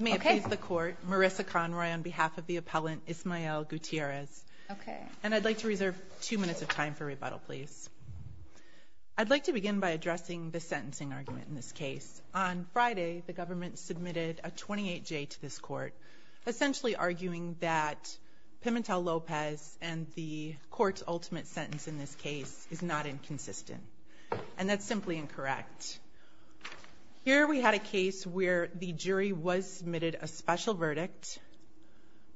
May it please the court, Marissa Conroy on behalf of the appellant Ismael Gutierrez. And I'd like to reserve two minutes of time for rebuttal, please. I'd like to begin by addressing the sentencing argument in this case. On Friday, the government submitted a 28-J to this court, essentially arguing that Pimentel-Lopez and the court's ultimate sentence in this case is not inconsistent. And that's simply incorrect. Here we had a case where the jury was submitted a special verdict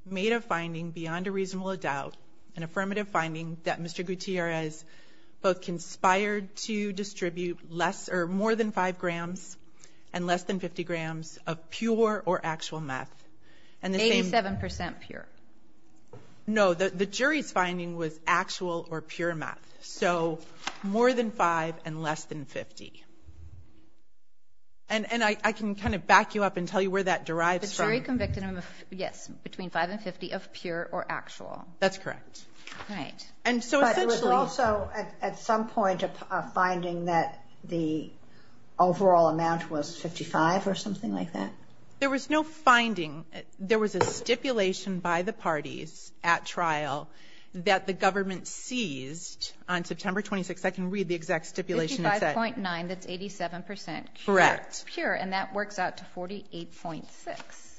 made of finding beyond a reasonable doubt an affirmative finding that Mr. Gutierrez both conspired to distribute less or more than 5 grams and less than 50 grams of pure or actual meth. And the same... 87% pure. No. The jury's finding was actual or pure meth. So more than 5 and less than 50. And I can kind of back you up and tell you where that derives from. The jury convicted him of, yes, between 5 and 50 of pure or actual. That's correct. Right. And so essentially... But there was also at some point a finding that the overall amount was 55 or something like that? There was no finding. There was a stipulation by the parties at trial that the government seized on September 26th. I can read the exact stipulation. It said... 55.9, that's 87% pure. Correct. And that works out to 48.6.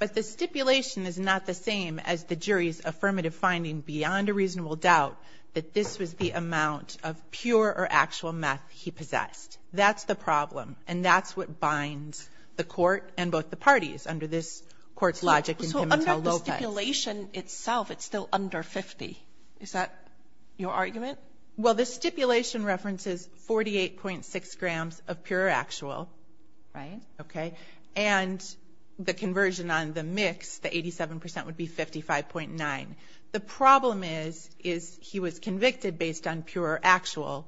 But the stipulation is not the same as the jury's affirmative finding beyond a reasonable doubt that this was the amount of pure or actual meth he possessed. That's the problem. And that's what binds the court and both the parties under this court's logic in Pimentel-Lopez. So under the stipulation itself, it's still under 50. Is that your argument? Well, the stipulation references 48.6 grams of pure or actual. Right. Okay. And the conversion on the mix, the 87%, would be 55.9. The problem is he was convicted based on pure or actual,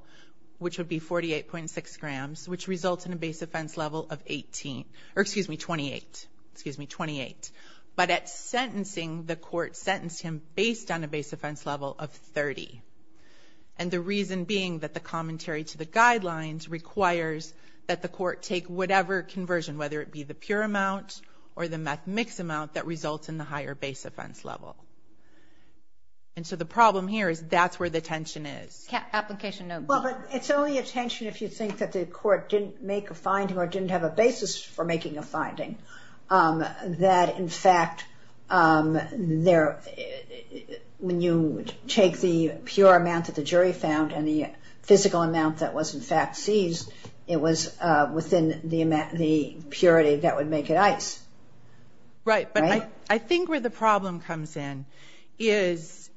which would be 48.6 grams, which results in a base offense level of 18, or excuse me, 28. Excuse me, 28. But at sentencing, the court sentenced him based on a base offense level of 30. And the reason being that the commentary to the guidelines requires that the court take whatever conversion, whether it be the pure amount or the meth mix amount, that results in the higher base offense level. And so the problem here is that's where the tension is. Application note. Well, but it's only a tension if you think that the court didn't make a finding or didn't have a basis for making a finding. That, in fact, when you take the pure amount that the jury found and the physical amount that was, in fact, seized, it was within the purity that would make it ICE. Right. But I think where the problem comes in is,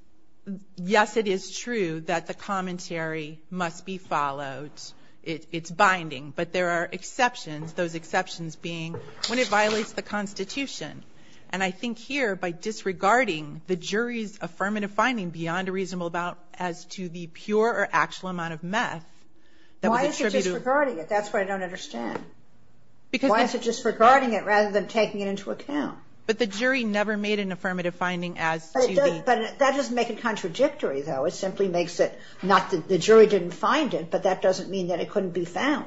yes, it is true that the commentary must be followed. It's binding. But there are exceptions, those exceptions being when it violates the Constitution. And I think here by disregarding the jury's affirmative finding beyond a reasonable bound as to the pure or actual amount of meth that was attributed to the jury. Why is it disregarding it? That's what I don't understand. Why is it disregarding it rather than taking it into account? But the jury never made an affirmative finding as to the... But that doesn't make it contradictory, though. It simply makes it not that the jury didn't find it, but that doesn't mean that it couldn't be found.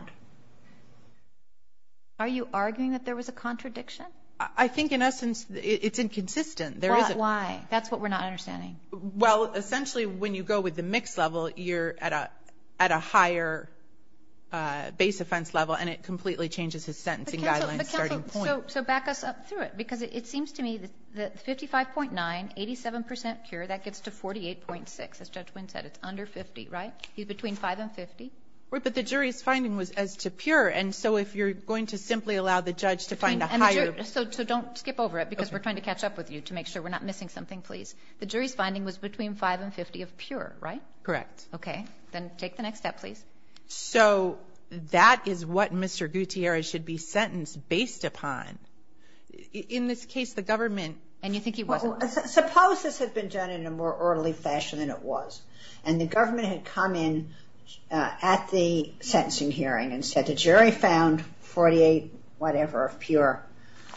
Are you arguing that there was a contradiction? I think, in essence, it's inconsistent. Why? That's what we're not understanding. Well, essentially, when you go with the mixed level, you're at a higher base offense level, and it completely changes his sentencing guidelines starting point. So back us up through it, because it seems to me that 55.9, 87 percent pure, that gets to 48.6. As Judge Wynn said, it's under 50, right? He's between 5 and 50. But the jury's finding was as to pure, and so if you're going to simply allow the judge to find a higher... So don't skip over it, because we're trying to catch up with you to make sure we're not missing something, please. The jury's finding was between 5 and 50 of pure, right? Correct. Okay. Then take the next step, please. So that is what Mr. Gutierrez should be sentenced based upon. In this case, the government... And you think he wasn't? Suppose this had been done in a more orderly fashion than it was, and the government had come in at the sentencing hearing and said the jury found 48 whatever of pure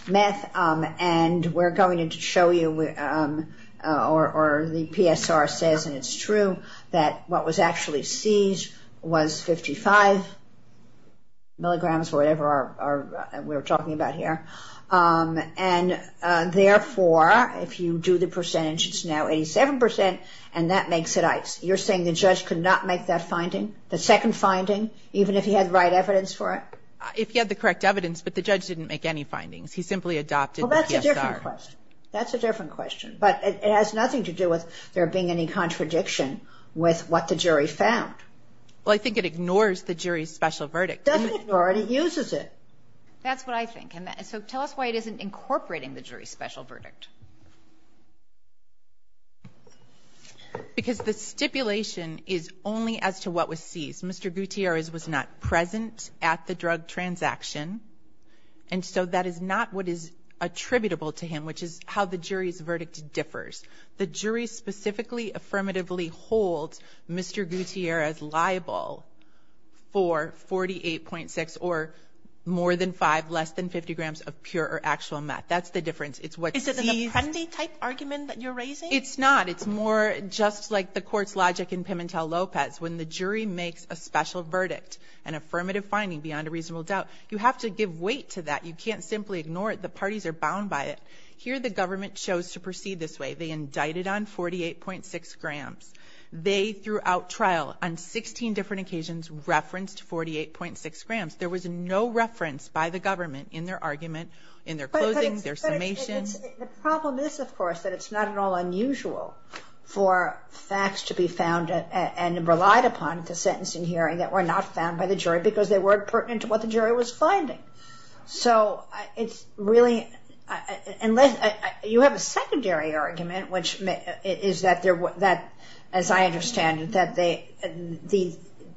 meth, and we're going to show you, or the PSR says, and it's true, that what was actually seized was 55 milligrams, whatever we're talking about here. And therefore, if you do the percentage, it's now 87%, and that makes it ICE. You're saying the judge could not make that finding, the second finding, even if he had the right evidence for it? If he had the correct evidence, but the judge didn't make any findings. He simply adopted the PSR. Well, that's a different question. That's a different question. But it has nothing to do with there being any contradiction with what the jury found. Well, I think it ignores the jury's special verdict. It doesn't ignore it. It uses it. That's what I think. So tell us why it isn't incorporating the jury's special verdict. Because the stipulation is only as to what was seized. Mr. Gutierrez was not present at the drug transaction, and so that is not what is attributable to him, which is how the jury's verdict differs. The jury specifically affirmatively holds Mr. Gutierrez liable for 48.6 or more than 5, less than 50 grams of pure or actual meth. That's the difference. Is it an appendi-type argument that you're raising? It's not. It's more just like the court's logic in Pimentel-Lopez. When the jury makes a special verdict, an affirmative finding beyond a reasonable doubt, you have to give weight to that. You can't simply ignore it. The parties are bound by it. Here the government chose to proceed this way. They indicted on 48.6 grams. They, throughout trial, on 16 different occasions, referenced 48.6 grams. There was no reference by the government in their argument, in their closings, their summations. The problem is, of course, that it's not at all unusual for facts to be found and relied upon at the sentencing hearing that were not found by the jury because they weren't pertinent to what the jury was finding. You have a secondary argument, which is that, as I understand it, that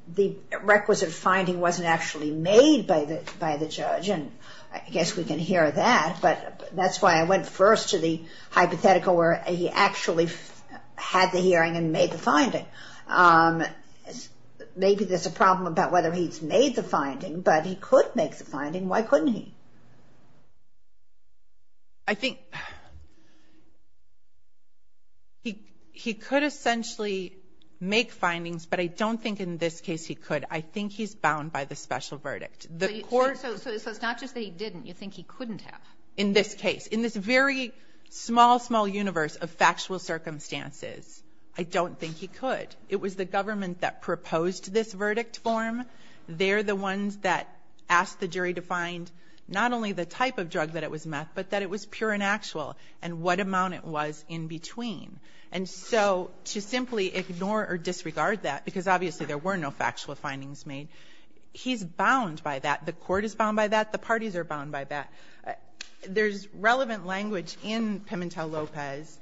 the requisite finding wasn't actually made by the judge. I guess we can hear that, but that's why I went first to the hypothetical where he actually had the hearing and made the finding. Maybe there's a problem about whether he's made the finding, but he could make the finding. Why couldn't he? I think he could essentially make findings, but I don't think in this case he could. I think he's bound by the special verdict. So it's not just that he didn't. You think he couldn't have? In this case. In this very small, small universe of factual circumstances, I don't think he could. It was the government that proposed this verdict form. They're the ones that asked the jury to find not only the type of drug that it was met, but that it was pure and actual and what amount it was in between. And so to simply ignore or disregard that, because obviously there were no factual findings made, he's bound by that. The Court is bound by that. The parties are bound by that. There's relevant language in Pimentel-Lopez,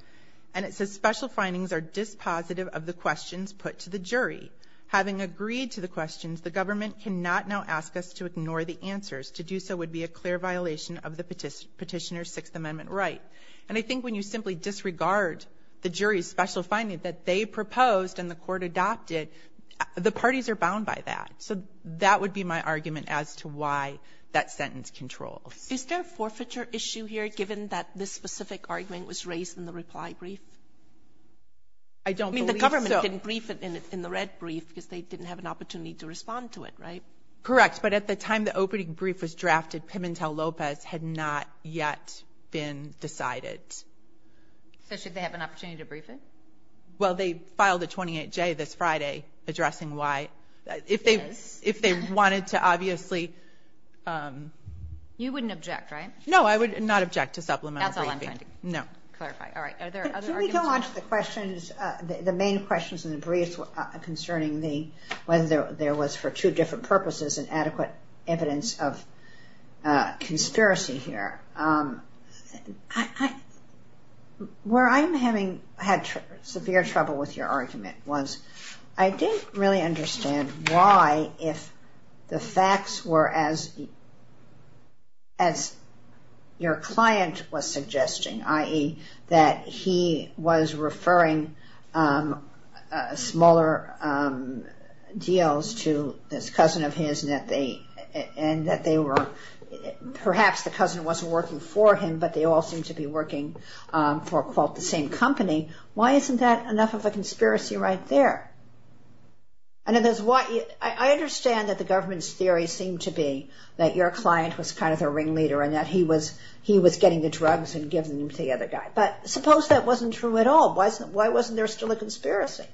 and it says, Special findings are dispositive of the questions put to the jury. Having agreed to the questions, the government cannot now ask us to ignore the answers. To do so would be a clear violation of the Petitioner's Sixth Amendment right. And I think when you simply disregard the jury's special finding that they proposed and the Court adopted, the parties are bound by that. So that would be my argument as to why that sentence controls. Kagan. Is there a forfeiture issue here, given that this specific argument was raised in the reply brief? I don't believe so. Well, they didn't brief it in the red brief because they didn't have an opportunity to respond to it, right? Correct. But at the time the opening brief was drafted, Pimentel-Lopez had not yet been decided. So should they have an opportunity to brief it? Well, they filed a 28-J this Friday addressing why. Yes. If they wanted to, obviously. You wouldn't object, right? No, I would not object to supplemental briefing. That's all I'm finding. No. Clarify. All right. Are there other arguments? Can we go on to the questions, the main questions in the brief concerning whether there was, for two different purposes, an adequate evidence of conspiracy here? Where I'm having severe trouble with your argument was I didn't really understand why the facts were as your client was suggesting, i.e. that he was referring smaller deals to this cousin of his and that perhaps the cousin wasn't working for him, but they all seemed to be working for, quote, the same company. Why isn't that enough of a conspiracy right there? I understand that the government's theory seemed to be that your client was kind of their ringleader and that he was getting the drugs and giving them to the other guy. But suppose that wasn't true at all. Why wasn't there still a conspiracy?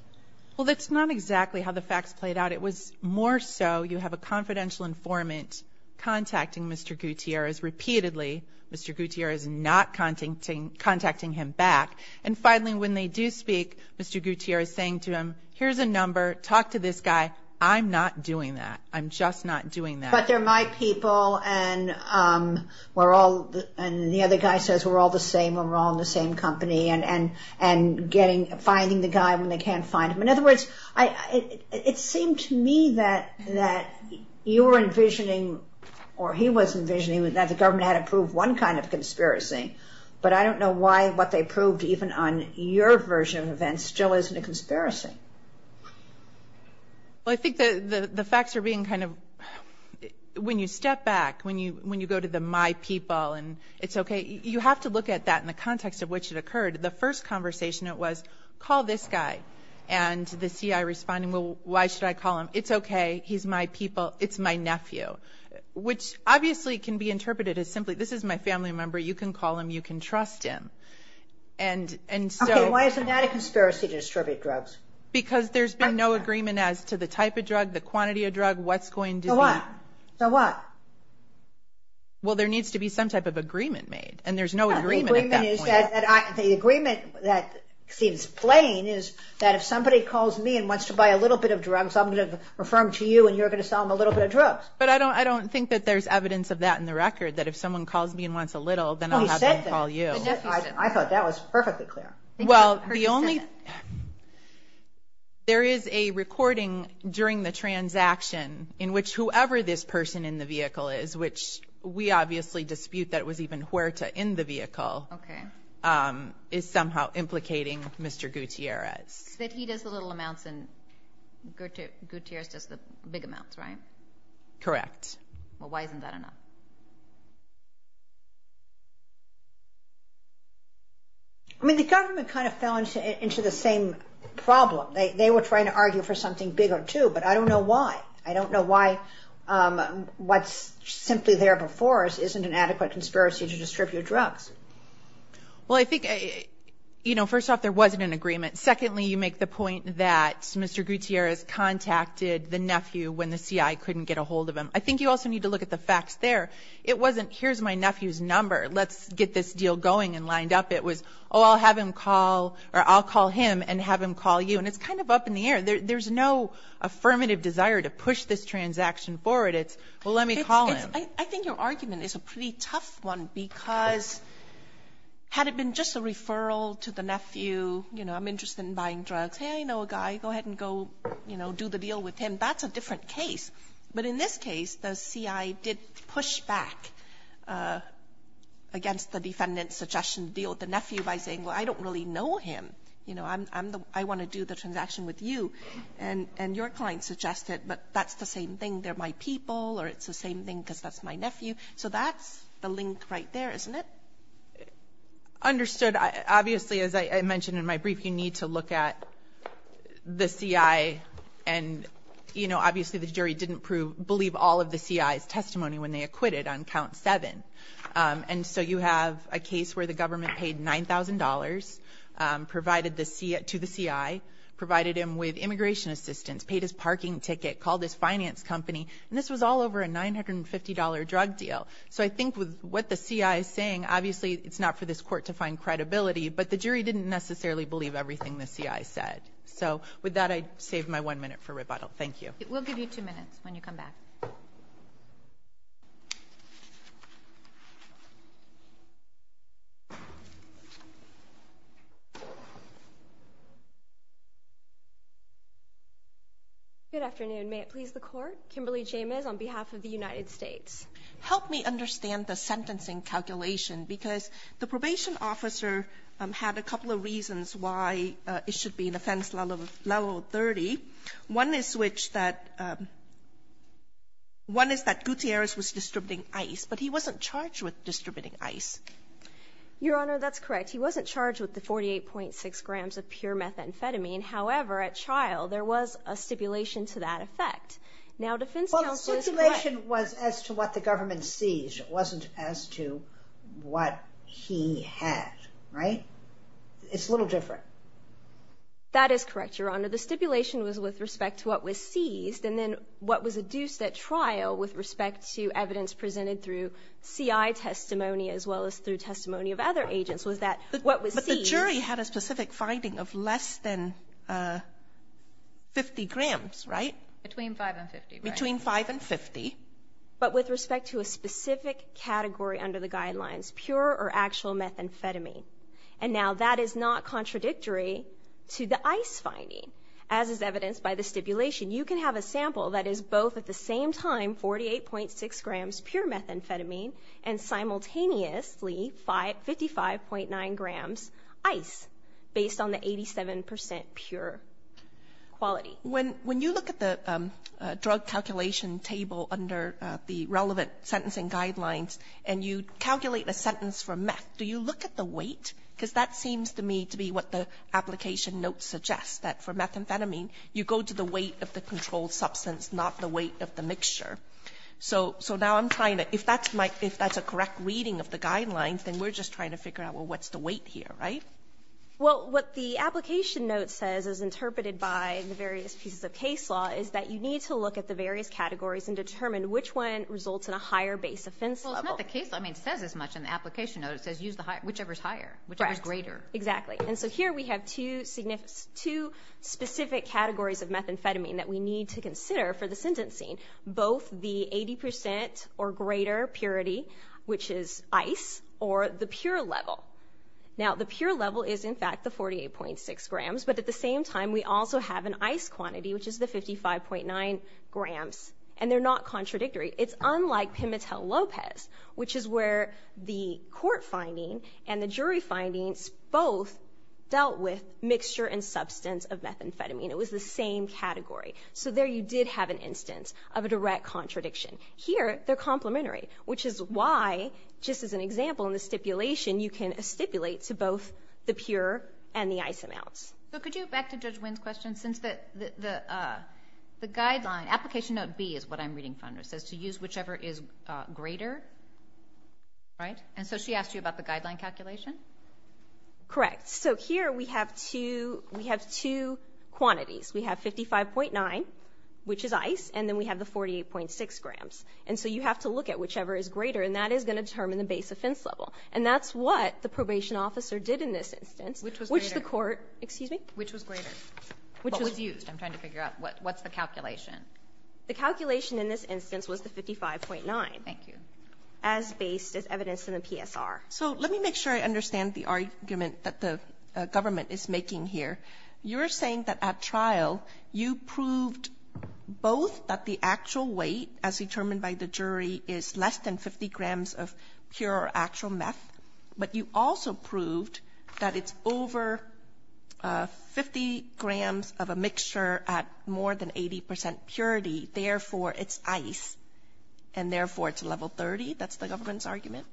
Well, that's not exactly how the facts played out. It was more so you have a confidential informant contacting Mr. Gutierrez repeatedly. Mr. Gutierrez is not contacting him back. And finally, when they do speak, Mr. Gutierrez is saying to him, here's a number, talk to this guy. I'm not doing that. I'm just not doing that. But they're my people and the other guy says we're all the same and we're all in the same company and finding the guy when they can't find him. In other words, it seemed to me that you were envisioning or he was envisioning that the government had approved one kind of conspiracy. But I don't know why what they approved even on your version of events still isn't a conspiracy. Well, I think the facts are being kind of, when you step back, when you go to the my people and it's okay, you have to look at that in the context of which it occurred. The first conversation it was, call this guy. And the CI responding, well, why should I call him? It's okay. He's my people. It's my nephew. Which obviously can be interpreted as simply this is my family member. You can call him. You can trust him. Okay, why isn't that a conspiracy to distribute drugs? Because there's been no agreement as to the type of drug, the quantity of drug, what's going to be. So what? Well, there needs to be some type of agreement made. And there's no agreement at that point. The agreement that seems plain is that if somebody calls me and wants to buy a little bit of drugs, I'm going to refer him to you and you're going to sell him a little bit of drugs. But I don't think that there's evidence of that in the record, that if someone calls me and wants a little, then I'll have them call you. Oh, he said that. The nephew said that. I thought that was perfectly clear. Well, there is a recording during the transaction in which whoever this person in the vehicle is, which we obviously dispute that it was even Huerta in the vehicle, is somehow implicating Mr. Gutierrez. But he does the little amounts and Gutierrez does the big amounts, right? Correct. Well, why isn't that enough? I mean, the government kind of fell into the same problem. They were trying to argue for something bigger, too, but I don't know why. I don't know why what's simply there before us isn't an adequate conspiracy to distribute drugs. Well, I think, you know, first off, there wasn't an agreement. Secondly, you make the point that Mr. Gutierrez contacted the nephew when the CI couldn't get a hold of him. I think you also need to look at the facts there. It wasn't here's my nephew's number, let's get this deal going and lined up. It was, oh, I'll have him call or I'll call him and have him call you. And it's kind of up in the air. There's no affirmative desire to push this transaction forward. It's, well, let me call him. I think your argument is a pretty tough one because had it been just a referral to the nephew, you know, I'm interested in buying drugs. Hey, I know a guy. Go ahead and go, you know, do the deal with him. That's a different case. But in this case, the CI did push back against the defendant's suggestion to deal with the nephew by saying, well, I don't really know him. You know, I want to do the transaction with you. And your client suggested, but that's the same thing. They're my people or it's the same thing because that's my nephew. So that's the link right there, isn't it? Understood. Obviously, as I mentioned in my brief, you need to look at the CI and, you know, obviously the jury didn't believe all of the CI's testimony when they acquitted on count seven. And so you have a case where the government paid $9,000 to the CI, provided him with immigration assistance, paid his parking ticket, called his finance company, and this was all over a $950 drug deal. So I think with what the CI is saying, obviously it's not for this court to find credibility, but the jury didn't necessarily believe everything the CI said. So with that, I save my one minute for rebuttal. Thank you. We'll give you two minutes when you come back. Good afternoon. May it please the Court. Kimberly Jamez on behalf of the United States. Help me understand the sentencing calculation because the probation officer had a couple of reasons why it should be an offense level 30. One is which that one is that Gutierrez was distributing ice, but he wasn't charged with distributing ice. Your Honor, that's correct. He wasn't charged with the 48.6 grams of pure methamphetamine. However, at trial, there was a stipulation to that effect. Well, the stipulation was as to what the government seized. It wasn't as to what he had, right? It's a little different. That is correct, Your Honor. The stipulation was with respect to what was seized, and then what was adduced at trial with respect to evidence presented through CI testimony as well as through testimony of other agents was that what was seized... But the jury had a specific finding of less than 50 grams, right? Between 5 and 50, right? Between 5 and 50. But with respect to a specific category under the guidelines, pure or actual methamphetamine. And now that is not contradictory to the ice finding as is evidenced by the stipulation. You can have a sample that is both at the same time 48.6 grams pure methamphetamine and simultaneously 55.9 grams ice based on the 87% pure quality. So when you look at the drug calculation table under the relevant sentencing guidelines and you calculate a sentence for meth, do you look at the weight? Because that seems to me to be what the application notes suggest, that for methamphetamine you go to the weight of the controlled substance, not the weight of the mixture. So now I'm trying to, if that's a correct reading of the guidelines, then we're just trying to figure out, well, what's the weight here, right? Well, what the application note says is interpreted by the various pieces of case law is that you need to look at the various categories and determine which one results in a higher base offense level. Well, it's not the case. I mean, it says as much in the application note. It says use the higher, whichever is higher, whichever is greater. Correct. Exactly. And so here we have two specific categories of methamphetamine that we need to consider for the sentencing, both the 80% or greater purity, which is ice, or the pure level. Now, the pure level is, in fact, the 48.6 grams, but at the same time we also have an ice quantity, which is the 55.9 grams, and they're not contradictory. It's unlike Pimitel-Lopez, which is where the court finding and the jury findings both dealt with mixture and substance of methamphetamine. It was the same category. So there you did have an instance of a direct contradiction. Here they're complementary, which is why, just as an example in the stipulation, you can stipulate to both the pure and the ice amounts. So could you go back to Judge Wynn's question since the guideline, application note B is what I'm reading from, it says to use whichever is greater, right? And so she asked you about the guideline calculation? Correct. So here we have two quantities. We have 55.9, which is ice, and then we have the 48.6 grams. And so you have to look at whichever is greater, and that is going to determine the base offense level. And that's what the probation officer did in this instance. Which was greater. Which the court, excuse me? Which was greater. What was used. I'm trying to figure out what's the calculation. The calculation in this instance was the 55.9. Thank you. As based as evidence in the PSR. So let me make sure I understand the argument that the government is making here. You're saying that at trial you proved both that the actual weight as determined by the jury is less than 50 grams of pure actual meth, but you also proved that it's over 50 grams of a mixture at more than 80 percent purity, therefore it's ice, and therefore it's level 30? That's the government's argument?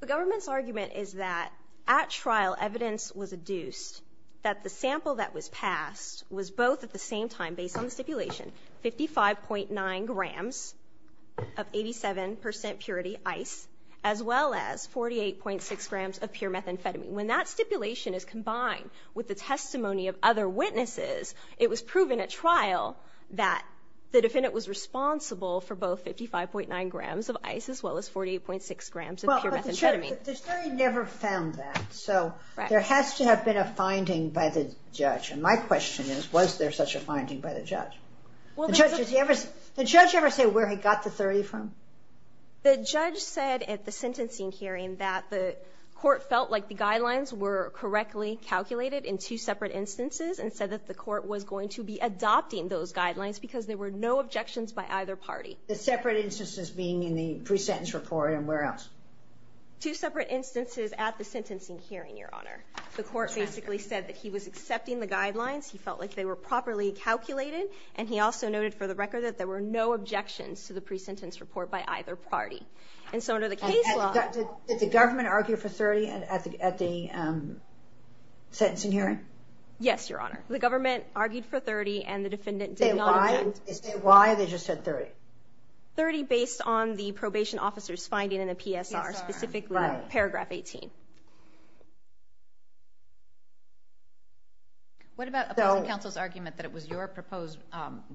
The government's argument is that at trial evidence was adduced that the sample that was passed was both at the same time, based on the stipulation, 55.9 grams, of 87 percent purity ice, as well as 48.6 grams of pure methamphetamine. When that stipulation is combined with the testimony of other witnesses, it was proven at trial that the defendant was responsible for both 55.9 grams of ice as well as 48.6 grams of pure methamphetamine. But the jury never found that. So there has to have been a finding by the judge. And my question is, was there such a finding by the judge? Did the judge ever say where he got the 30 from? The judge said at the sentencing hearing that the court felt like the guidelines were correctly calculated in two separate instances, and said that the court was going to be adopting those guidelines because there were no objections by either party. The separate instances being in the pre-sentence report and where else? Two separate instances at the sentencing hearing, Your Honor. The court basically said that he was accepting the guidelines, he felt like they were properly calculated, and he also noted for the record that there were no objections to the pre-sentence report by either party. And so under the case law... Did the government argue for 30 at the sentencing hearing? Yes, Your Honor. The government argued for 30, and the defendant did not object. Why? They just said 30? 30 based on the probation officer's finding in the PSR, specifically paragraph 18. What about opposing counsel's argument that it was your proposed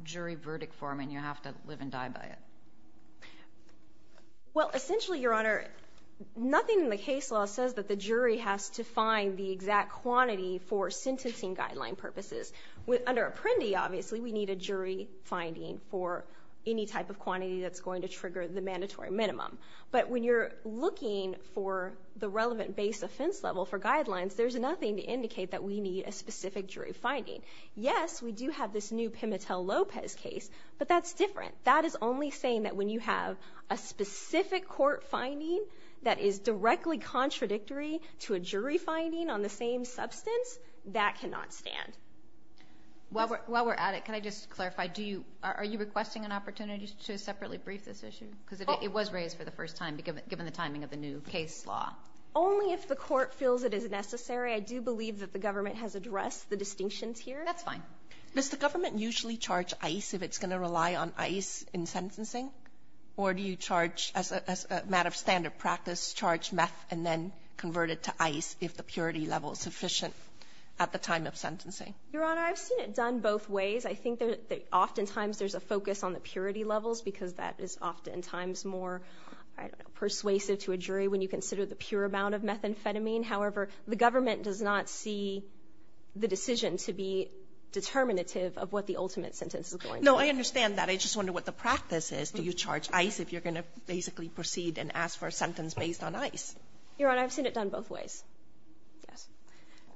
jury verdict for him and you have to live and die by it? Well, essentially, Your Honor, nothing in the case law says that the jury has to find the exact quantity for sentencing guideline purposes. Under Apprendi, obviously, we need a jury finding for any type of quantity that's going to trigger the mandatory minimum. But when you're looking for the relevant verdict, based offense level for guidelines, there's nothing to indicate that we need a specific jury finding. Yes, we do have this new Pimitell-Lopez case, but that's different. That is only saying that when you have a specific court finding that is directly contradictory to a jury finding on the same substance, that cannot stand. While we're at it, can I just clarify, are you requesting an opportunity to separately brief this issue? Because it was raised for the first time, given the timing of the new case law. Only if the court feels it is necessary. I do believe that the government has addressed the distinctions here. That's fine. Does the government usually charge ICE if it's going to rely on ICE in sentencing? Or do you charge, as a matter of standard practice, charge meth and then convert it to ICE if the purity level is sufficient at the time of sentencing? Your Honor, I've seen it done both ways. I think that oftentimes there's a focus on the purity levels because that is oftentimes more persuasive to a jury when you consider the pure amount of methamphetamine. However, the government does not see the decision to be determinative of what the ultimate sentence is going to be. No, I understand that. I just wonder what the practice is. Do you charge ICE if you're going to basically proceed and ask for a sentence based on ICE? Your Honor, I've seen it done both ways.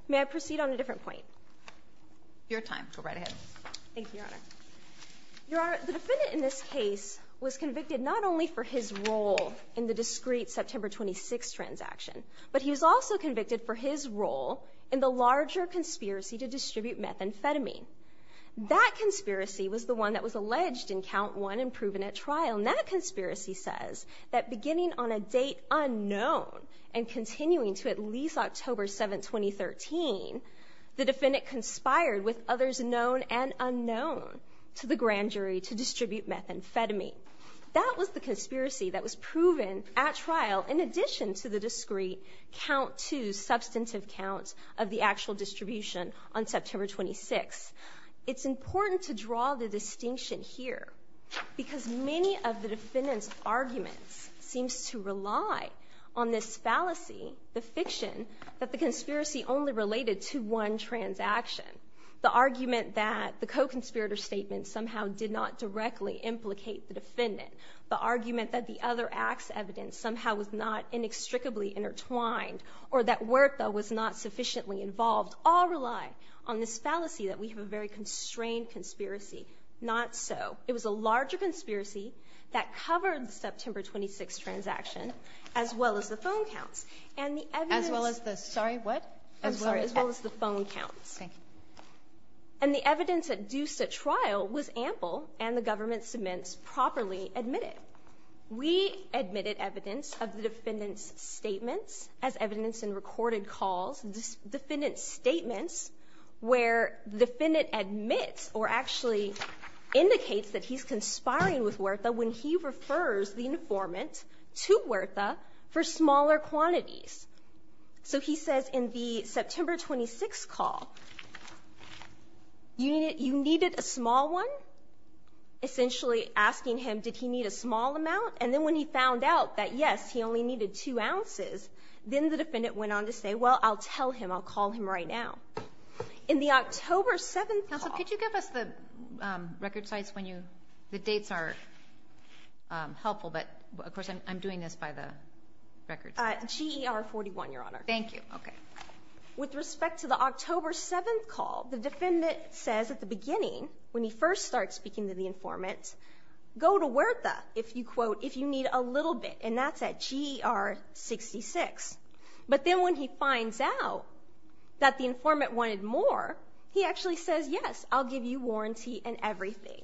May I proceed on a different point? Your time. Go right ahead. Thank you, Your Honor. Your Honor, the defendant in this case was convicted not only for his role in the discreet September 26 transaction, but he was also convicted for his role in the larger conspiracy to distribute methamphetamine. That conspiracy was the one that was alleged in Count 1 and proven at trial, and that conspiracy says that beginning on a date unknown and continuing to at least October 7, 2013, the defendant conspired with others known and unknown to the grand jury to distribute methamphetamine. That was the conspiracy that was proven at trial in addition to the discreet Count 2 substantive count of the actual distribution on September 26. It's important to draw the distinction here because many of the defendant's arguments seems to rely on this fallacy, the fiction, that the conspiracy only related to one transaction, the argument that the co-conspirator statement somehow did not directly implicate the defendant, the argument that the other act's evidence somehow was not inextricably intertwined or that Huerta was not sufficiently involved all rely on this fallacy that we have a very constrained conspiracy. Not so. It was a larger conspiracy that covered the September 26 transaction as well as the phone counts. And the evidence... As well as the, sorry, what? I'm sorry. As well as the phone counts. Thank you. And the evidence that do such trial was ample and the government cements properly admitted. We admitted evidence of the defendant's statements as evidence in recorded calls, this defendant's statements where the defendant admits or actually indicates that he's conspiring with Huerta when he refers the informant to Huerta for smaller quantities. So he says in the September 26 call, you needed a small one? Essentially asking him, did he need a small amount? And then when he found out that yes, he only needed two ounces, then the defendant went on to say, well, I'll tell him, I'll call him right now. In the October 7th call... Counsel, could you give us the record sites when you... The dates are helpful, but of course I'm doing this by the records. GER 41, Your Honor. Thank you. Okay. With respect to the October 7th call, the defendant says at the beginning when he first starts speaking to the informant, go to Huerta if you need a little bit and that's at GER 66. But then when he finds out that the informant wanted more, he actually says, yes, I'll give you warranty and everything.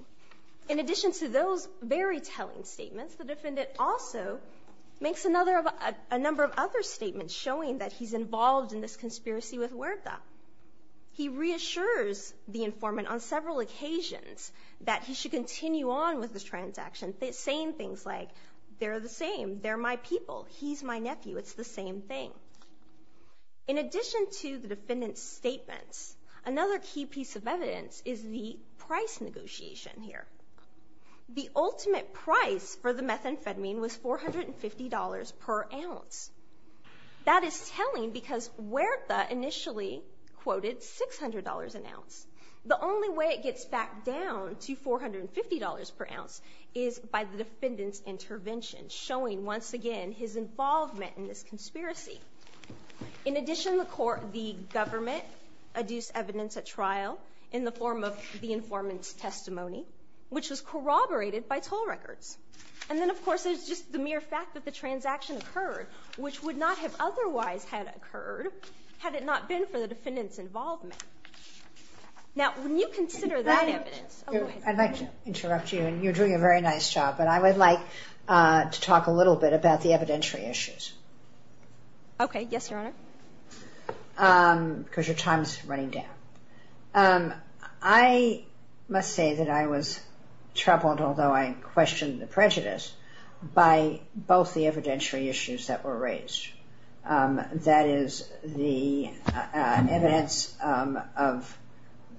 In addition to those very telling statements, the defendant also makes a number of other statements showing that he's involved in this conspiracy with Huerta. He reassures the informant on several occasions that he should continue on with this transaction, saying things like, they're the same, they're my people, he's my nephew, it's the same thing. In addition to the defendant's statements, another key piece of evidence is the price negotiation here. The ultimate price for the methamphetamine was $450 per ounce. That is telling because Huerta initially quoted $600 an ounce. The only way it gets back down to $450 per ounce is by the defendant's intervention, showing once again his involvement in this conspiracy. In addition, the government adduced evidence at trial in the form of the informant's testimony which was corroborated by toll records. And then, of course, there's just the mere fact that the transaction occurred, which would not have otherwise had occurred had it not been for the defendant's involvement. Now, when you consider that evidence... I'd like to interrupt you, and you're doing a very nice job, but I would like to talk a little bit about the evidentiary issues. Okay, yes, Your Honor. Because your time's running down. I must say that I was troubled, although I questioned the prejudice, by both the evidentiary issues that were raised. That is, the evidence of...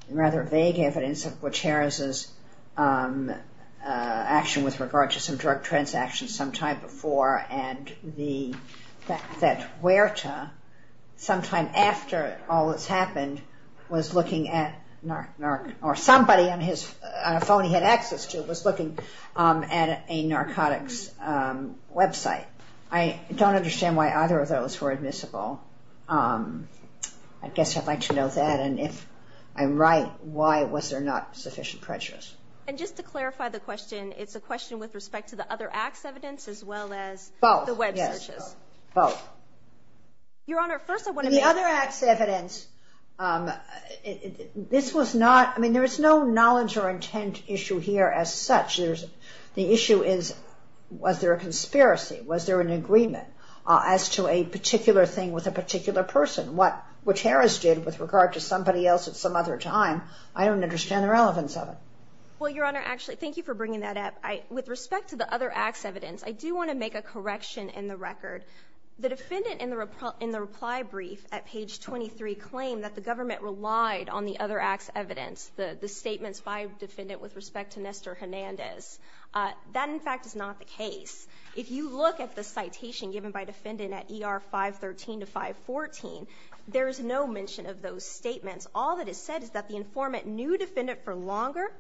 rather vague evidence of Gutierrez's action with regard to some drug transactions sometime before, and the fact that Huerta, sometime after all this happened, was looking at... or somebody on a phone he had access to was looking at a narcotics website. I don't understand why either of those were admissible. I guess I'd like to know that, and if I'm right, why was there not sufficient prejudice? And just to clarify the question, it's a question with respect to the other acts evidence as well as the web searches? Both, yes, both. Your Honor, first I want to make... The other acts evidence, this was not... I mean, there is no knowledge or intent issue here as such. The issue is, was there a conspiracy? Was there an agreement as to a particular thing with a particular person? What Gutierrez did with regard to somebody else at some other time, I don't understand the relevance of it. Well, Your Honor, actually, thank you for bringing that up. With respect to the other acts evidence, I do want to make a correction in the record. The defendant in the reply brief at page 23 claimed that the government relied on the other acts evidence, the statements by defendant with respect to Nestor Hernandez. That, in fact, is not the case. If you look at the citation given by defendant at ER 513 to 514, there is no mention of those statements. All that is said is that the informant knew defendant for longer,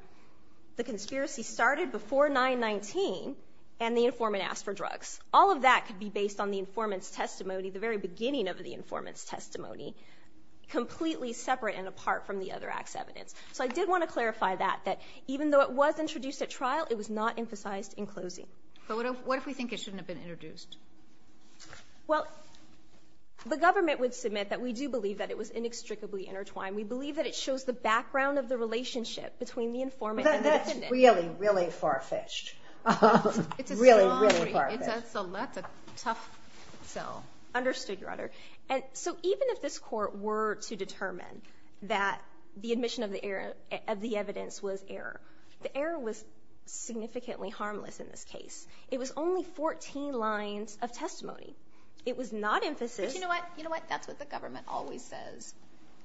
and the informant asked for drugs. All of that could be based on the informant's testimony, the very beginning of the informant's testimony, completely separate and apart from the other acts evidence. So I did want to clarify that, that even though it was introduced at trial, it was not emphasized in closing. But what if we think it shouldn't have been introduced? Well, the government would submit that we do believe that it was inextricably intertwined. We believe that it shows the background of the relationship between the informant and the defendant. That's really, really far-fetched. Really, really far-fetched. That's a tough sell. Understood, Your Honor. And so even if this Court were to determine that the admission of the evidence was error, the error was significantly harmless in this case. It was only 14 lines of testimony. It was not emphasized. But you know what? That's what the government always says.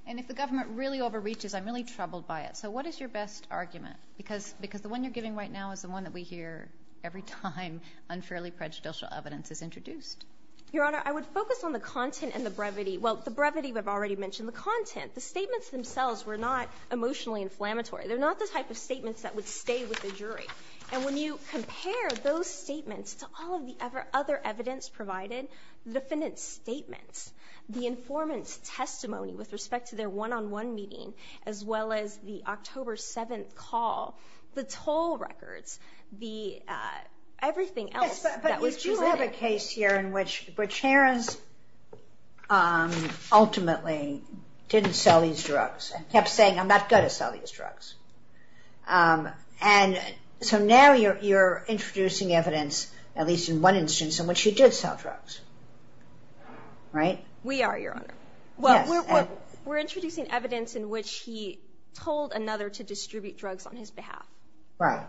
And if the government really overreaches, I'm really troubled by it. So what is your best argument? Because the one you're giving right now is the one that we hear every time unfairly prejudicial evidence is introduced. Your Honor, I would focus on the content and the brevity. Well, the brevity, I've already mentioned the content. The statements themselves were not emotionally inflammatory. They're not the type of statements that would stay with the jury. And when you compare those statements to all of the other evidence provided, the defendant's statements, the informant's testimony with respect to their one-on-one meeting, as well as the October 7th call, the toll records, everything else that was presented. Yes, but you do have a case here in which Harris ultimately didn't sell these drugs and kept saying, I'm not going to sell these drugs. And so now you're introducing evidence, at least in one instance, in which you did sell drugs. Right? We are, Your Honor. We're introducing evidence in which he told another to distribute drugs on his behalf. Right.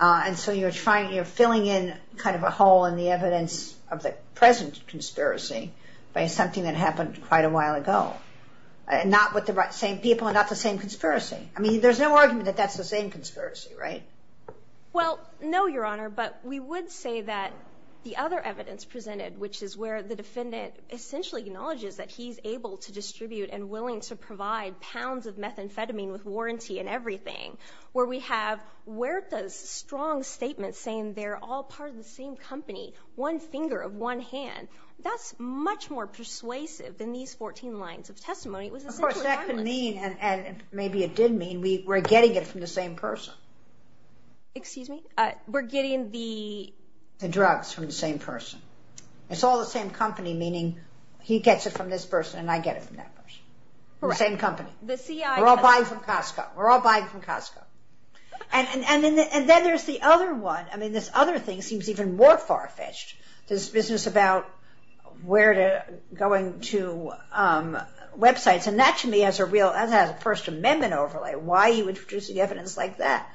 And so you're filling in kind of a hole in the evidence of the present conspiracy by something that happened quite a while ago. Not with the same people and not the same conspiracy. I mean, there's no argument that that's the same conspiracy, right? Well, no, Your Honor, but we would say that the other evidence presented, which is where the defendant essentially acknowledges that he's able to distribute and willing to provide pounds of methamphetamine with warranty and everything, where we have Huerta's strong statement saying they're all part of the same company, one finger of one hand. That's much more persuasive than these 14 lines of testimony. Of course, that could mean, and maybe it did mean, we're getting it from the same person. Excuse me? We're getting the drugs from the same person. It's all the same company, meaning he gets it from this person and I get it from that person. The same company. We're all buying from Costco. We're all buying from Costco. And then there's the other one. I mean, this other thing seems even more far-fetched. This business about Huerta going to websites. And that, to me, has a First Amendment overlay. Why are you introducing evidence like that?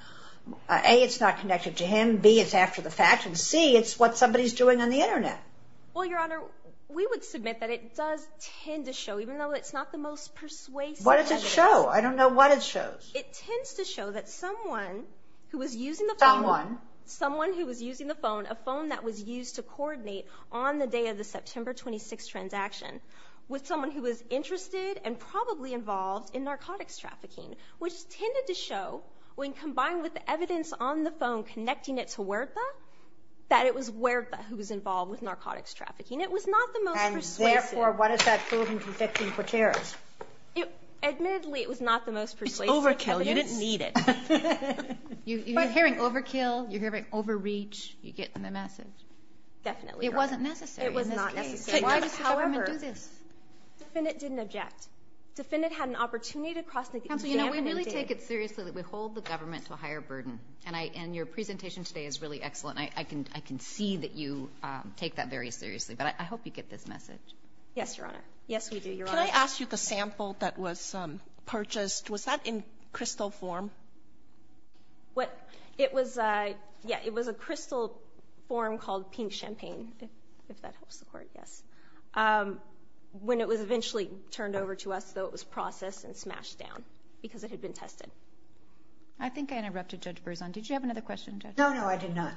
A, it's not connected to him. B, it's after the fact. And C, it's what somebody's doing on the Internet. Well, Your Honor, we would submit that it does tend to show, even though it's not the most persuasive evidence. What does it show? I don't know what it shows. It tends to show that someone who was using the phone. Someone. Someone who was using the phone, a phone that was used to coordinate on the day of the September 26th transaction with someone who was interested and probably involved in narcotics trafficking, which tended to show, when combined with evidence on the phone connecting it to Huerta, that it was Huerta who was involved with narcotics trafficking. It was not the most persuasive. And, therefore, what does that prove in convicting Coteras? Admittedly, it was not the most persuasive evidence. It's overkill. You didn't need it. You're hearing overkill. You're hearing overreach. You're getting the message. Definitely, Your Honor. It wasn't necessary in this case. It was not necessary. Why does the government do this? However, the defendant didn't object. Defendant had an opportunity to cross examine and did. Counsel, you know, we really take it seriously that we hold the government to a higher burden. And your presentation today is really excellent. I can see that you take that very seriously. But I hope you get this message. Yes, Your Honor. Yes, we do, Your Honor. Can I ask you the sample that was purchased? Was that in crystal form? It was a crystal form called pink champagne, if that helps the Court, yes, when it was eventually turned over to us, though it was processed and smashed down because it had been tested. I think I interrupted Judge Berzon. Did you have another question, Judge? No, no, I did not.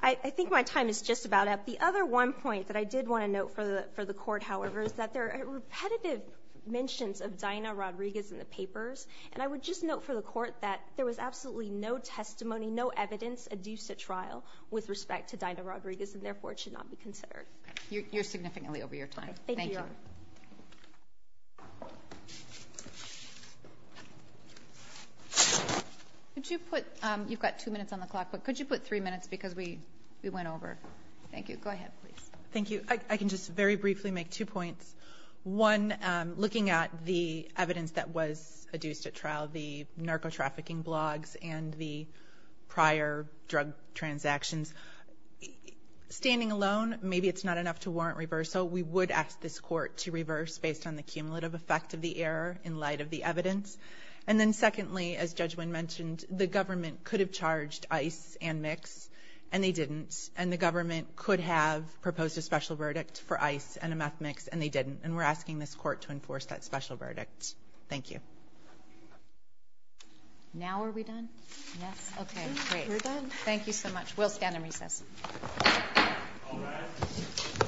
I think my time is just about up. The other one point that I did want to note for the Court, however, is that there are repetitive mentions of Dinah Rodriguez in the papers. And I would just note for the Court that there was absolutely no testimony, no evidence adduced at trial with respect to Dinah Rodriguez, and therefore it should not be considered. Okay. You're significantly over your time. Thank you, Your Honor. Thank you. Could you put, you've got two minutes on the clock, but could you put three minutes because we went over. Thank you. Go ahead, please. Thank you. I can just very briefly make two points. One, looking at the evidence that was adduced at trial, the narcotrafficking blogs and the prior drug transactions, standing alone, maybe it's not enough to warrant reversal. We would ask this Court to reverse based on the cumulative effect of the error in light of the evidence. And then secondly, as Judge Wynn mentioned, the government could have charged ICE and mix, and they didn't. And the government could have proposed a special verdict for ICE and a meth mix, and they didn't. And we're asking this Court to enforce that special verdict. Thank you. Now are we done? Yes. Okay, great. We're done. Thank you so much. We'll stand and recess.